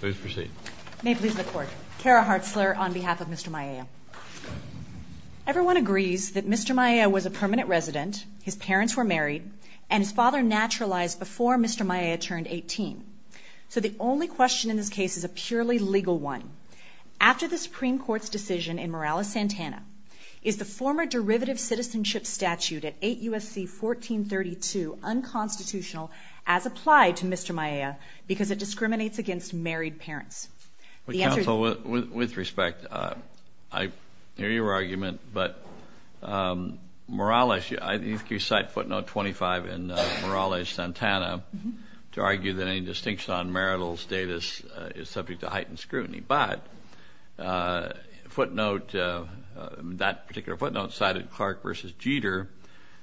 Please proceed. May it please the court. Kara Hartzler on behalf of Mr. Mayea. Everyone agrees that Mr. Mayea was a permanent resident, his parents were married, and his father naturalized before Mr. Mayea turned 18. So the only question in this case is a purely legal one. After the Supreme Court's decision in Morales-Santana, is the former derivative citizenship statute at 8 U.S.C. 1432 unconstitutional as applied to Mr. Mayea because it discriminates against married parents? The answer is... The counsel, with respect, I hear your argument, but Morales, you cite footnote 25 in Morales-Santana to argue that any distinction on marital status is subject to heightened scrutiny. But footnote, that particular footnote cited Clark v. Jeter,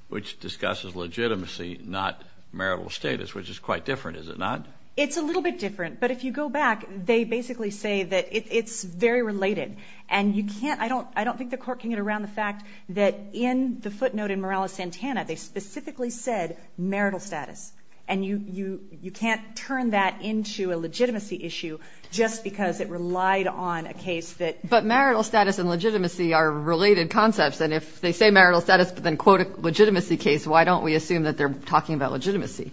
which discusses legitimacy, not marital status, which is quite different, is it not? It's a little bit different. But if you go back, they basically say that it's very related. And you can't, I don't think the court can get around the fact that in the footnote in Morales-Santana, they specifically said marital status. And you can't turn that into a legitimacy issue just because it relied on a case that... But marital status and legitimacy are related concepts. And if they say marital status, but then quote a legitimacy case, why don't we assume that they're talking about legitimacy?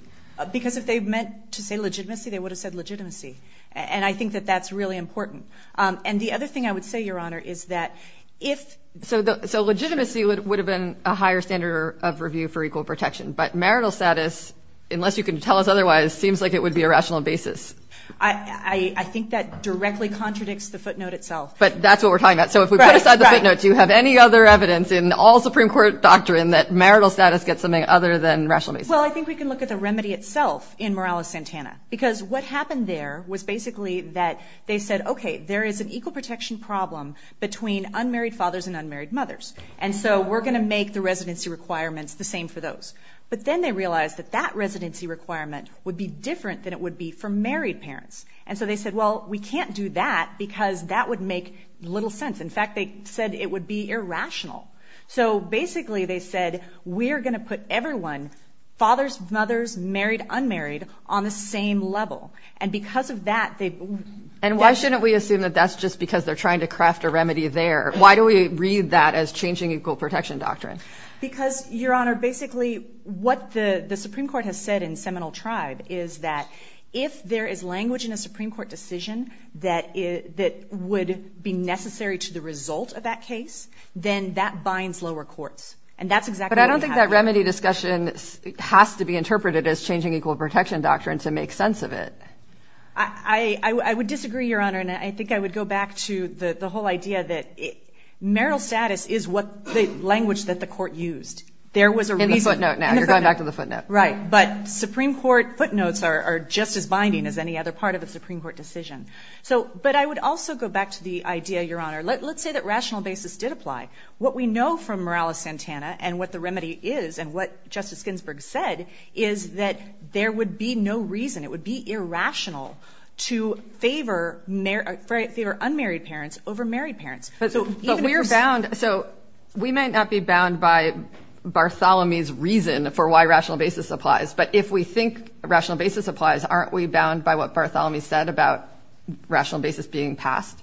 Because if they meant to say legitimacy, they would have said legitimacy. And I think that that's really important. And the other thing I would say, Your Honor, is that if... So legitimacy would have been a higher standard of review for equal protection. But marital status, unless you can tell us otherwise, seems like it would be a rational basis. I think that directly contradicts the footnote itself. But that's what we're talking about. So if we put aside the footnote, do you have any other evidence in all Supreme Court doctrine that marital status gets something other than rational basis? Well, I think we can look at the remedy itself in Morales-Santana. Because what happened there was basically that they said, okay, there is an equal protection problem between unmarried fathers and unmarried mothers. And so we're going to make the residency requirements the same for those. But then they realized that that residency requirement would be different than it would be for married parents. And so they said, well, we can't do that, because that would make little sense. In fact, they said it would be irrational. So basically, they said, we're going to put everyone, fathers, mothers, married, unmarried, on the same level. And because of that, they... And why shouldn't we assume that that's just because they're trying to craft a remedy there? Why do we read that as changing equal protection doctrine? Because, Your Honor, basically what the Supreme Court has said in Seminole Tribe is that if there is language in a Supreme Court decision that would be necessary to the result of that case, then that binds lower courts. And that's exactly what we have now. But I don't think that remedy discussion has to be interpreted as changing equal protection doctrine to make sense of it. I would disagree, Your Honor. And I think I would go back to the whole idea that marital status is the language that the court used. There was a reason... Right. But Supreme Court footnotes are just as binding as any other part of a Supreme Court decision. So, but I would also go back to the idea, Your Honor, let's say that rational basis did apply. What we know from Morales-Santana, and what the remedy is, and what Justice Ginsburg said, is that there would be no reason, it would be irrational to favor unmarried parents over married parents. But we're bound. So we might not be bound by Bartholomew's reason for why rational basis applies. But if we think rational basis applies, aren't we bound by what Bartholomew said about rational basis being passed?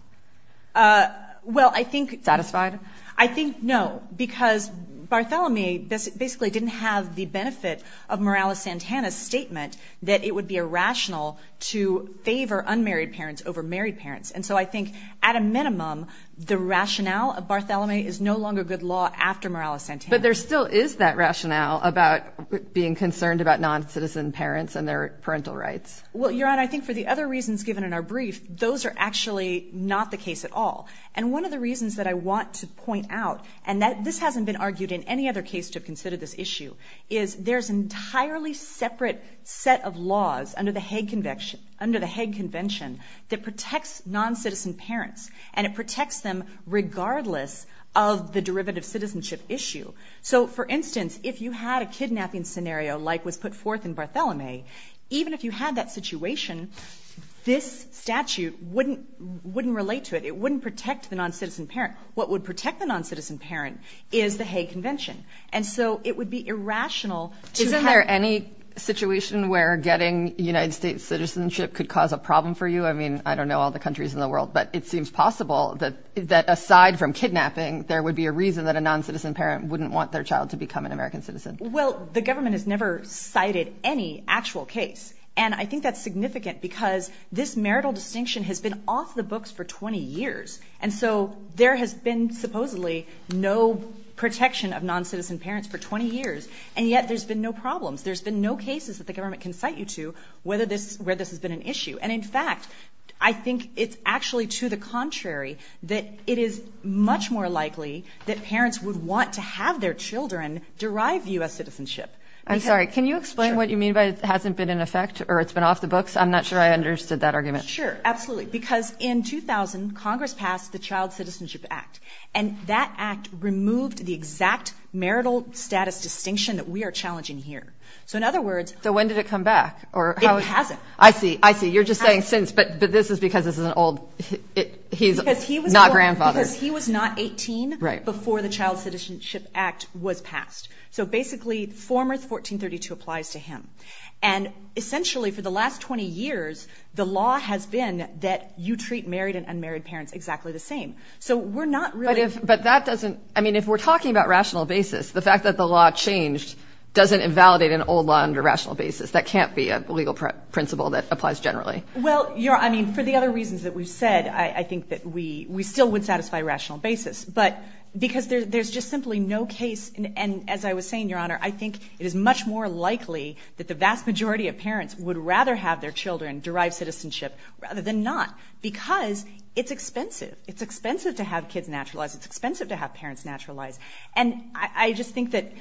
Well, I think... Satisfied? I think no, because Bartholomew basically didn't have the benefit of Morales-Santana's statement that it would be irrational to favor unmarried parents over married parents. And so I think at a minimum, the rationale of Bartholomew is no longer good law after Morales-Santana. But there still is that rationale about being concerned about non-citizen parents and their parental rights. Well, Your Honor, I think for the other reasons given in our brief, those are actually not the case at all. And one of the reasons that I want to point out, and this hasn't been argued in any other case to have considered this issue, is there's an entirely separate set of laws under under the Hague Convention that protects non-citizen parents, and it protects them regardless of the derivative citizenship issue. So for instance, if you had a kidnapping scenario like was put forth in Bartholomew, even if you had that situation, this statute wouldn't relate to it. It wouldn't protect the non-citizen parent. What would protect the non-citizen parent is the Hague Convention. And so it would be irrational to have... citizenship could cause a problem for you. I mean, I don't know all the countries in the world, but it seems possible that aside from kidnapping, there would be a reason that a non-citizen parent wouldn't want their child to become an American citizen. Well, the government has never cited any actual case. And I think that's significant because this marital distinction has been off the books for 20 years. And so there has been supposedly no protection of non-citizen parents for 20 years. And yet there's been no problems. There's been no cases that the government can cite you to where this has been an issue. And in fact, I think it's actually to the contrary, that it is much more likely that parents would want to have their children derive U.S. citizenship. I'm sorry. Can you explain what you mean by it hasn't been in effect or it's been off the books? I'm not sure I understood that argument. Sure. Absolutely. Because in 2000, Congress passed the Child Citizenship Act. And that act removed the exact marital status distinction that we are challenging here. So in other words... So when did it come back or... It hasn't. I see. I see. You're just saying since, but this is because this is an old... He's not grandfather. Because he was not 18 before the Child Citizenship Act was passed. So basically, former 1432 applies to him. And essentially, for the last 20 years, the law has been that you treat married and unmarried parents exactly the same. So we're not really... But that doesn't... I mean, if we're talking about rational basis, the fact that the law changed doesn't invalidate an old law under rational basis. That can't be a legal principle that applies generally. Well, I mean, for the other reasons that we've said, I think that we still would satisfy rational basis. But because there's just simply no case. And as I was saying, Your Honor, I think it is much more likely that the vast majority of parents would rather have their children derive citizenship rather than not. Because it's expensive. It's expensive to have kids naturalized. It's expensive to have parents naturalized. And I just think that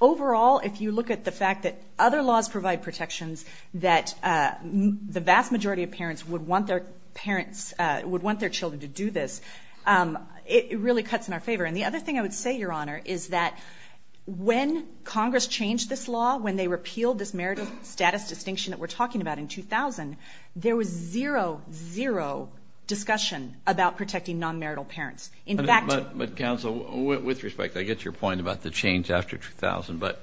overall, if you look at the fact that other laws provide protections that the vast majority of parents would want their children to do this, it really cuts in our favor. And the other thing I would say, Your Honor, is that when Congress changed this law, when they repealed this marital status distinction that we're talking about in 2000, there was zero, zero discussion about protecting non-marital parents. But Counsel, with respect, I get your point about the change after 2000. But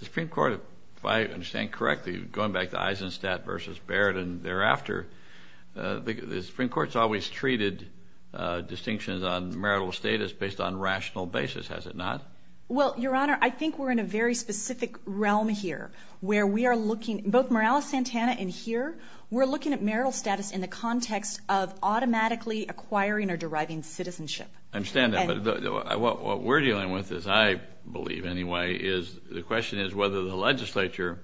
the Supreme Court, if I understand correctly, going back to Eisenstadt versus Barrett and thereafter, the Supreme Court's always treated distinctions on marital status based on rational basis, has it not? Well, Your Honor, I think we're in a very specific realm here, where we are looking, both Morales-Santana and here, we're looking at marital status in the context of automatically acquiring or deriving citizenship. I understand that. But what we're dealing with is, I believe anyway, is the question is whether the legislature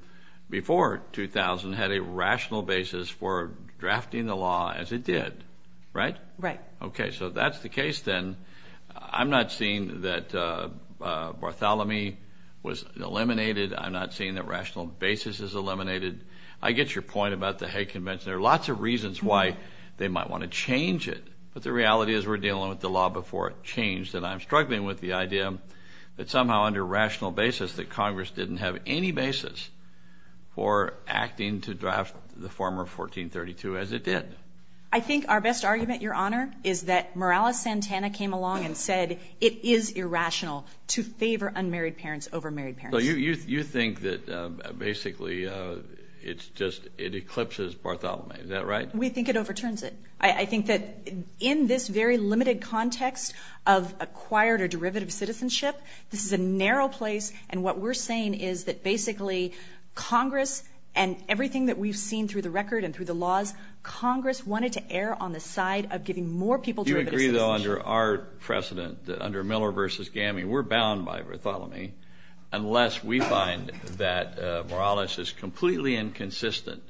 before 2000 had a rational basis for drafting the law as it did, right? Right. Okay. So that's the case then. I'm not seeing that Bartholomew was eliminated. I'm not seeing that rational basis is eliminated. I get your point about the Hague Convention. There are lots of reasons why they might want to change it. But the reality is we're dealing with the law before it changed. And I'm struggling with the idea that somehow under rational basis that Congress didn't have any basis for acting to draft the former 1432 as it did. I think our best argument, Your Honor, is that Morales-Santana came along and said, it is irrational to favor unmarried parents over married parents. You think that basically it's just, it eclipses Bartholomew. Is that right? We think it overturns it. I think that in this very limited context of acquired or derivative citizenship, this is a narrow place. And what we're saying is that basically Congress and everything that we've seen through the record and through the laws, Congress wanted to err on the side of giving more people derivative citizenship. Do you agree, though, under our precedent that under Miller v. Gammy, we're bound by Bartholomew unless we find that Morales is completely inconsistent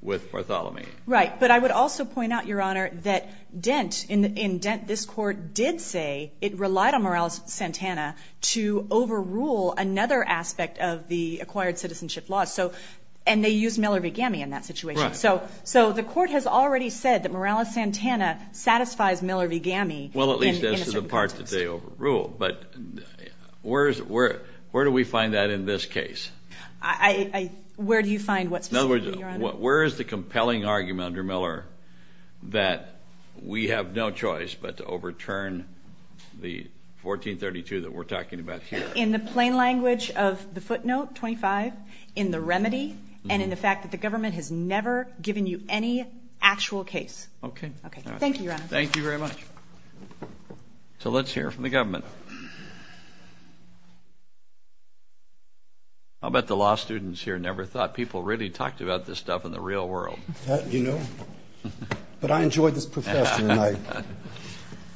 with Bartholomew? Right. But I would also point out, Your Honor, that Dent, in Dent, this court did say it relied on Morales-Santana to overrule another aspect of the acquired citizenship law. And they used Miller v. Gammy in that situation. So the court has already said that Morales-Santana satisfies Miller v. Gammy in a certain context. But where do we find that in this case? Where do you find what's specific, Your Honor? Where is the compelling argument under Miller that we have no choice but to overturn the 1432 that we're talking about here? In the plain language of the footnote, 25, in the remedy and in the fact that the government has never given you any actual case. Okay. Thank you, Your Honor. Thank you very much. So let's hear from the government. I'll bet the law students here never thought people really talked about this stuff in the real world. You know, but I enjoy this profession and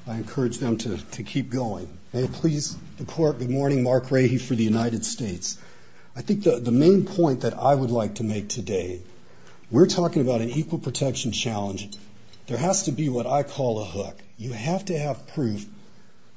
I encourage them to keep going. May it please the court, good morning, Mark Rahe for the United States. I think the main point that I would like to make today, we're talking about an equal protection challenge. There has to be what I call a hook. You have to have proof,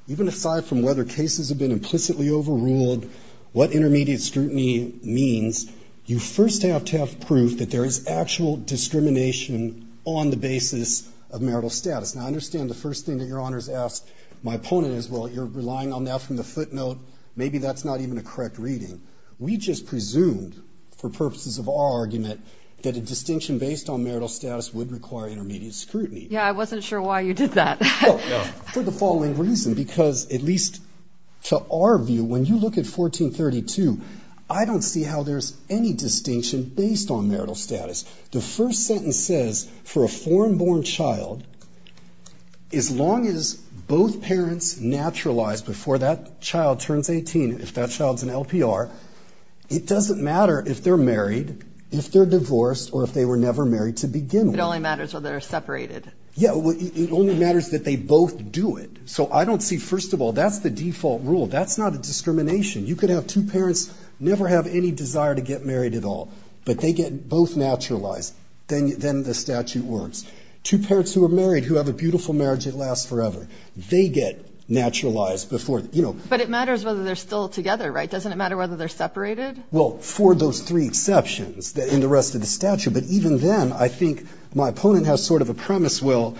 even aside from whether cases have been implicitly overruled, what intermediate scrutiny means, you first have to have proof that there is actual discrimination on the basis of marital status. Now, I understand the first thing that Your Honor has asked my opponent is, well, you're relying on that from the footnote. Maybe that's not even a correct reading. We just presumed, for purposes of our argument, that a distinction based on marital status would require intermediate scrutiny. Yeah, I wasn't sure why you did that. For the following reason, because at least to our view, when you look at 1432, I don't see how there's any distinction based on marital status. The first sentence says, for a foreign born child, as long as both parents naturalized before that child turns 18, if that child's an LPR, it doesn't matter if they're married, if they're divorced, or if they were never married to begin with. It only matters whether they're separated. Yeah, it only matters that they both do it. So I don't see, first of all, that's the default rule. That's not a discrimination. You could have two parents never have any desire to get married at all, but they get both naturalized, then the statute works. Two parents who are married, who have a beautiful marriage that lasts forever, they get naturalized before, you know. But it matters whether they're still together, right? Doesn't it matter whether they're separated? Well, for those three exceptions in the rest of the statute. But even then, I think my opponent has sort of a premise, well,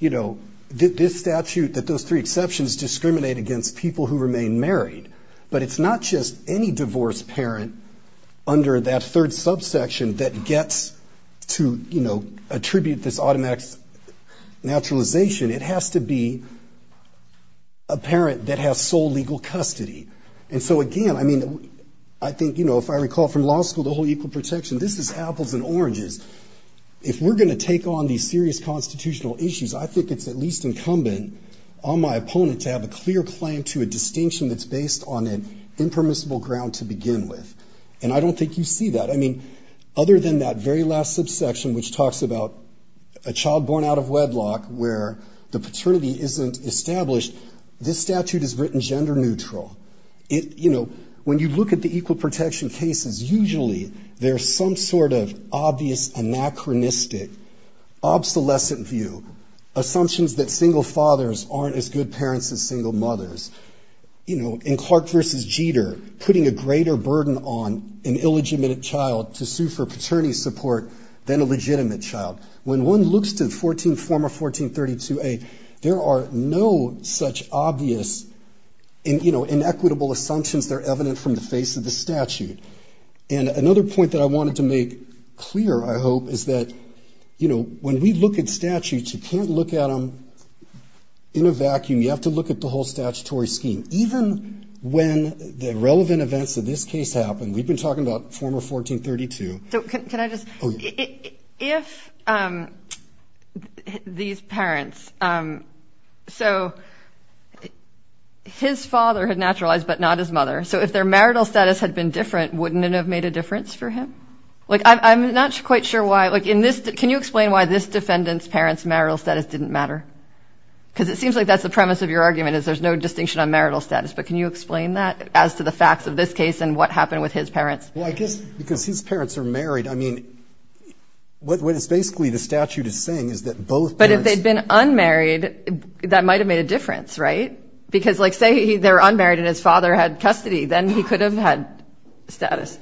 you know, this statute, that those three exceptions discriminate against people who remain married. But it's not just any divorced parent under that third subsection that gets to, you know, attribute this automatic naturalization. It has to be a parent that has sole legal custody. And so again, I mean, I think, you know, if I recall from law school, the whole equal protection, this is apples and oranges. If we're going to take on these serious constitutional issues, I think it's at least incumbent on my opponent to have a clear claim to a distinction that's based on an impermissible ground to begin with. And I don't think you see that. I mean, other than that very last subsection, which talks about a child born out of you know, when you look at the equal protection cases, usually there's some sort of obvious anachronistic, obsolescent view, assumptions that single fathers aren't as good parents as single mothers. You know, in Clark v. Jeter, putting a greater burden on an illegitimate child to sue for paternity support than a legitimate child. When one looks to former 1432A, there are no such obvious and, you know, inequitable assumptions that are evident from the face of the statute. And another point that I wanted to make clear, I hope, is that, you know, when we look at statutes, you can't look at them in a vacuum. You have to look at the whole statutory scheme. Even when the relevant events of this case happen, we've been talking about former 1432. So can I just, if these parents, so his father had naturalized, but not his mother. So if their marital status had been different, wouldn't it have made a difference for him? Like, I'm not quite sure why, like in this, can you explain why this defendant's parents marital status didn't matter? Because it seems like that's the premise of your argument is there's no distinction on marital status. But can you explain that as to the facts of this case and what happened with his parents? Well, I guess because his parents are married. I mean, what is basically the statute is saying is that both. But if they'd been unmarried, that might have made a difference, right? Because like, say, they're unmarried and his father had custody, then he could have had status.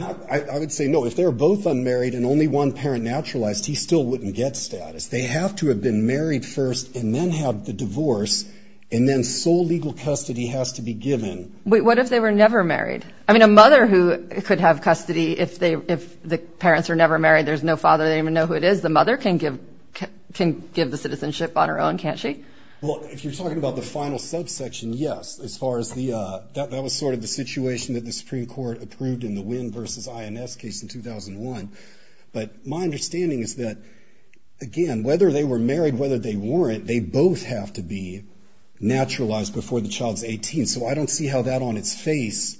I would say no, if they're both unmarried and only one parent naturalized, he still wouldn't get status. They have to have been married first and then have the divorce. And then sole legal custody has to be given. What if they were never married? I mean, a mother who could have custody if the parents are never married, there's no father, they don't even know who it is. The mother can give the citizenship on her own, can't she? Well, if you're talking about the final subsection, yes. As far as the, that was sort of the situation that the Supreme Court approved in the Wynn versus INS case in 2001. But my understanding is that, again, whether they were married, whether they weren't, they both have to be naturalized before the child's 18. So I don't see how that on its face,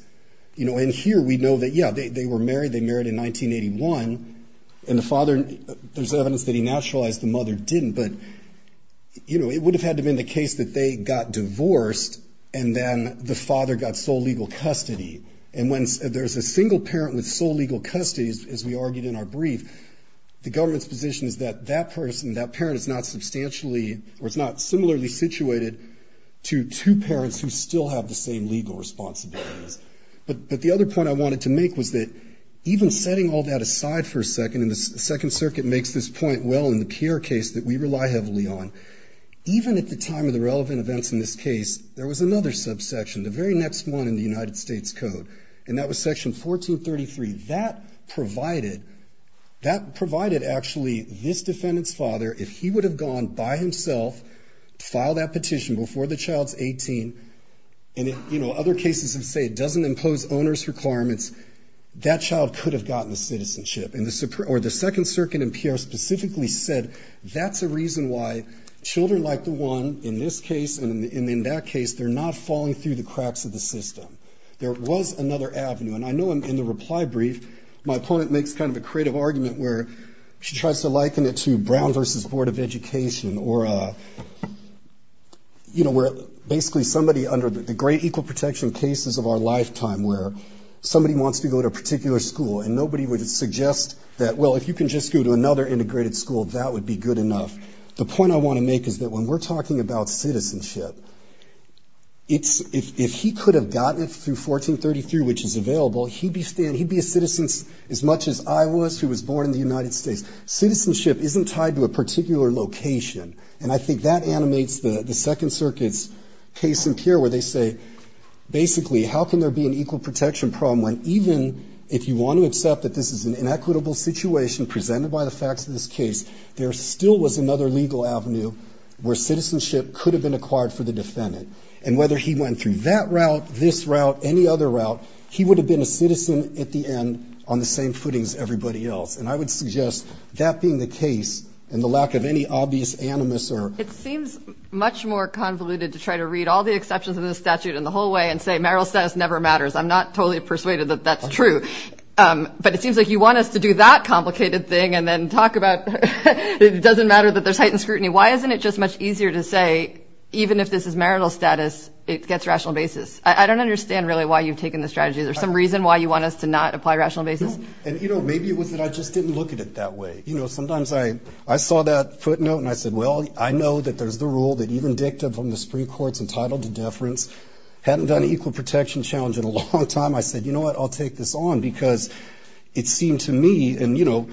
you know, and here we know that, yeah, they were married, they married in 1981. And the father, there's evidence that he naturalized, the mother didn't. But, you know, it would have had to have been the case that they got divorced and then the father got sole legal custody. And when there's a single parent with sole legal custody, as we argued in our brief, the government's position is that that person, that parent is not substantially, or it's not similarly situated to two parents who still have the same legal responsibilities. But the other point I wanted to make was that even setting all that aside for a second, and the Second Circuit makes this point well in the Pierre case that we rely heavily on, even at the time of the relevant events in this case, there was another subsection, the very next one in the United States Code. And that was section 1433. That provided, that provided actually this defendant's father, if he would have gone by himself to file that petition before the child's 18, and, you know, other cases have said it doesn't impose owner's requirements, that child could have gotten the citizenship. And the, or the Second Circuit in Pierre specifically said that's a reason why children like the one in this case and in that case, they're not falling through the cracks of the system. There was another avenue. And I know in the reply brief, my opponent makes kind of a creative argument where she tries to liken it to Brown versus Board of Education or, you know, where basically somebody under the great equal protection cases of our lifetime where somebody wants to go to a particular school and nobody would suggest that, well, if you can just go to another integrated school, that would be good enough. The point I want to make is that when we're talking about citizenship, it's, if he could have gotten it through 1433, which is available, he'd be a citizen as much as I was who was born in the United States. Citizenship isn't tied to a particular location. And I think that animates the Second Circuit's case in Pierre where they say, basically, how can there be an equal protection problem when even if you want to accept that this is an inequitable situation presented by the facts of this case, there still was another legal avenue where citizenship could have been acquired for the defendant. And whether he went through that route, this route, any other route, he would have been a citizen at the end on the same footing as everybody else. And I would suggest that being the case and the lack of any obvious animus or... It seems much more convoluted to try to read all the exceptions in the statute and the whole way and say marital status never matters. I'm not totally persuaded that that's true. But it seems like you want us to do that complicated thing and then talk about it doesn't matter that there's heightened scrutiny. Why isn't it just much easier to say even if this is marital status, it gets rational basis? I don't understand really why you've taken this strategy. Is there some reason why you want us to not apply rational basis? And, you know, maybe it was that I just didn't look at it that way. You know, sometimes I saw that footnote and I said, well, I know that there's the rule that even dicta from the Supreme Court's entitled to deference hadn't done an equal protection challenge in a long time. I said, you know what, I'll take this on because it seemed to me and, you know,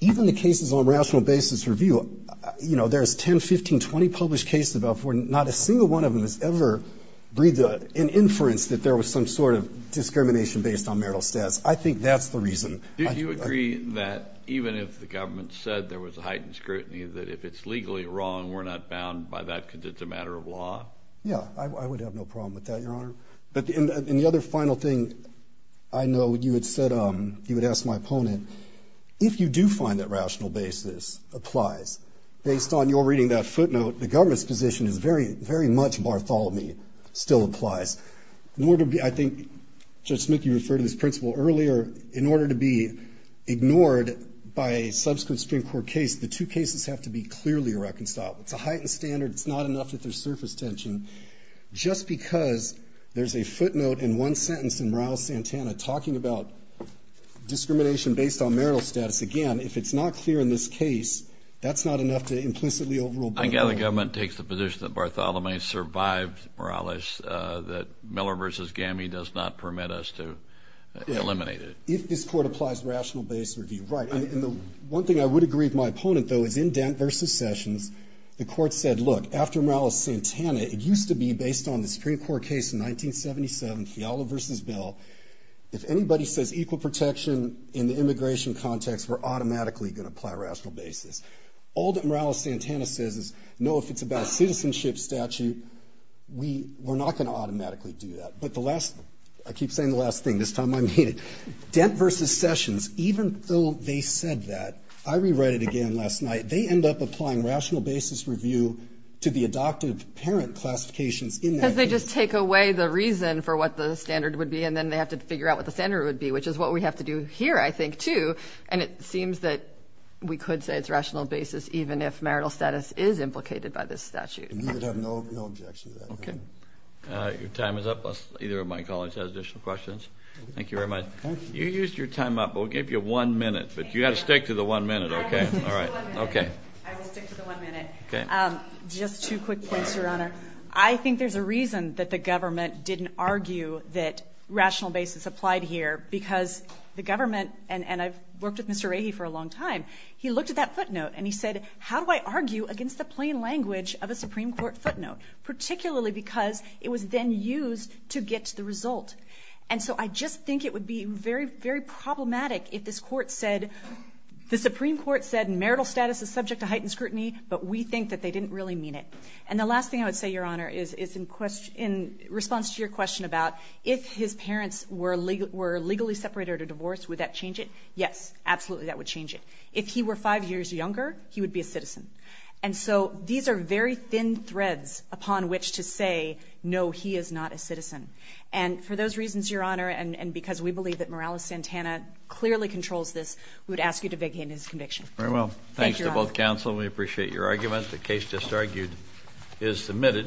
even the cases on rational basis review, you know, there's 10, 15, 20 published cases about where not a single one of them has ever breathed an inference that there was some sort of discrimination based on marital status. I think that's the reason. Do you agree that even if the government said there was a heightened scrutiny that if it's legally wrong, we're not bound by that because it's a matter of law? Yeah, I would have no problem with that, Your Honor. But in the other final thing, I know you had said you would ask my opponent, if you do find that rational basis applies. Based on your reading that footnote, the government's position is very, very much Bartholomew still applies. In order to be, I think Judge Smickey referred to this principle earlier. In order to be ignored by a subsequent Supreme Court case, the two cases have to be clearly reconciled. It's a heightened standard. It's not enough that there's surface tension. Just because there's a footnote in one sentence in Rouse-Santana talking about discrimination based on marital status, again, if it's not clear in this case, that's not enough to implicitly overrule Bartholomew. I gather the government takes the position that Bartholomew survived Morales, that Miller v. Gammie does not permit us to eliminate it. If this Court applies rational basis review, right. And the one thing I would agree with my opponent, though, is in Dent v. Sessions, the Court said, look, after Morales-Santana, it used to be based on the Supreme Court case in 1977, Fiala v. Bell. If anybody says equal protection in the immigration context, we're automatically going to apply rational basis. All that Morales-Santana says is, no, if it's about a citizenship statute, we're not going to automatically do that. But the last, I keep saying the last thing, this time I mean it, Dent v. Sessions, even though they said that, I rewrite it again last night, they end up applying rational basis review to the adoptive parent classifications in that case. They just take away the reason for what the standard would be, and then they have to figure out what the standard would be, which is what we have to do here, I think, too. And it seems that we could say it's rational basis, even if marital status is implicated by this statute. And you would have no objection to that, correct? Okay. Your time is up. Either of my colleagues has additional questions. Thank you very much. Thank you. You used your time up. We'll give you one minute. But you've got to stick to the one minute, okay? I will stick to the one minute. Okay. I will stick to the one minute. Okay. Just two quick points, Your Honor. I think there's a reason that the government didn't argue that rational basis applied here, because the government, and I've worked with Mr. Rahe for a long time, he looked at that footnote and he said, how do I argue against the plain language of a Supreme Court footnote? Particularly because it was then used to get to the result. And so I just think it would be very, very problematic if this Court said, the Supreme Court said marital status is subject to heightened scrutiny, but we think that they didn't really mean it. And the last thing I would say, Your Honor, is in response to your question about if his parents were legally separated or divorced, would that change it? Yes, absolutely that would change it. If he were five years younger, he would be a citizen. And so these are very thin threads upon which to say, no, he is not a citizen. And for those reasons, Your Honor, and because we believe that Morales Santana clearly controls this, we would ask you to vacate his conviction. Very well. Thanks to both counsel. We appreciate your argument. The case just argued is submitted.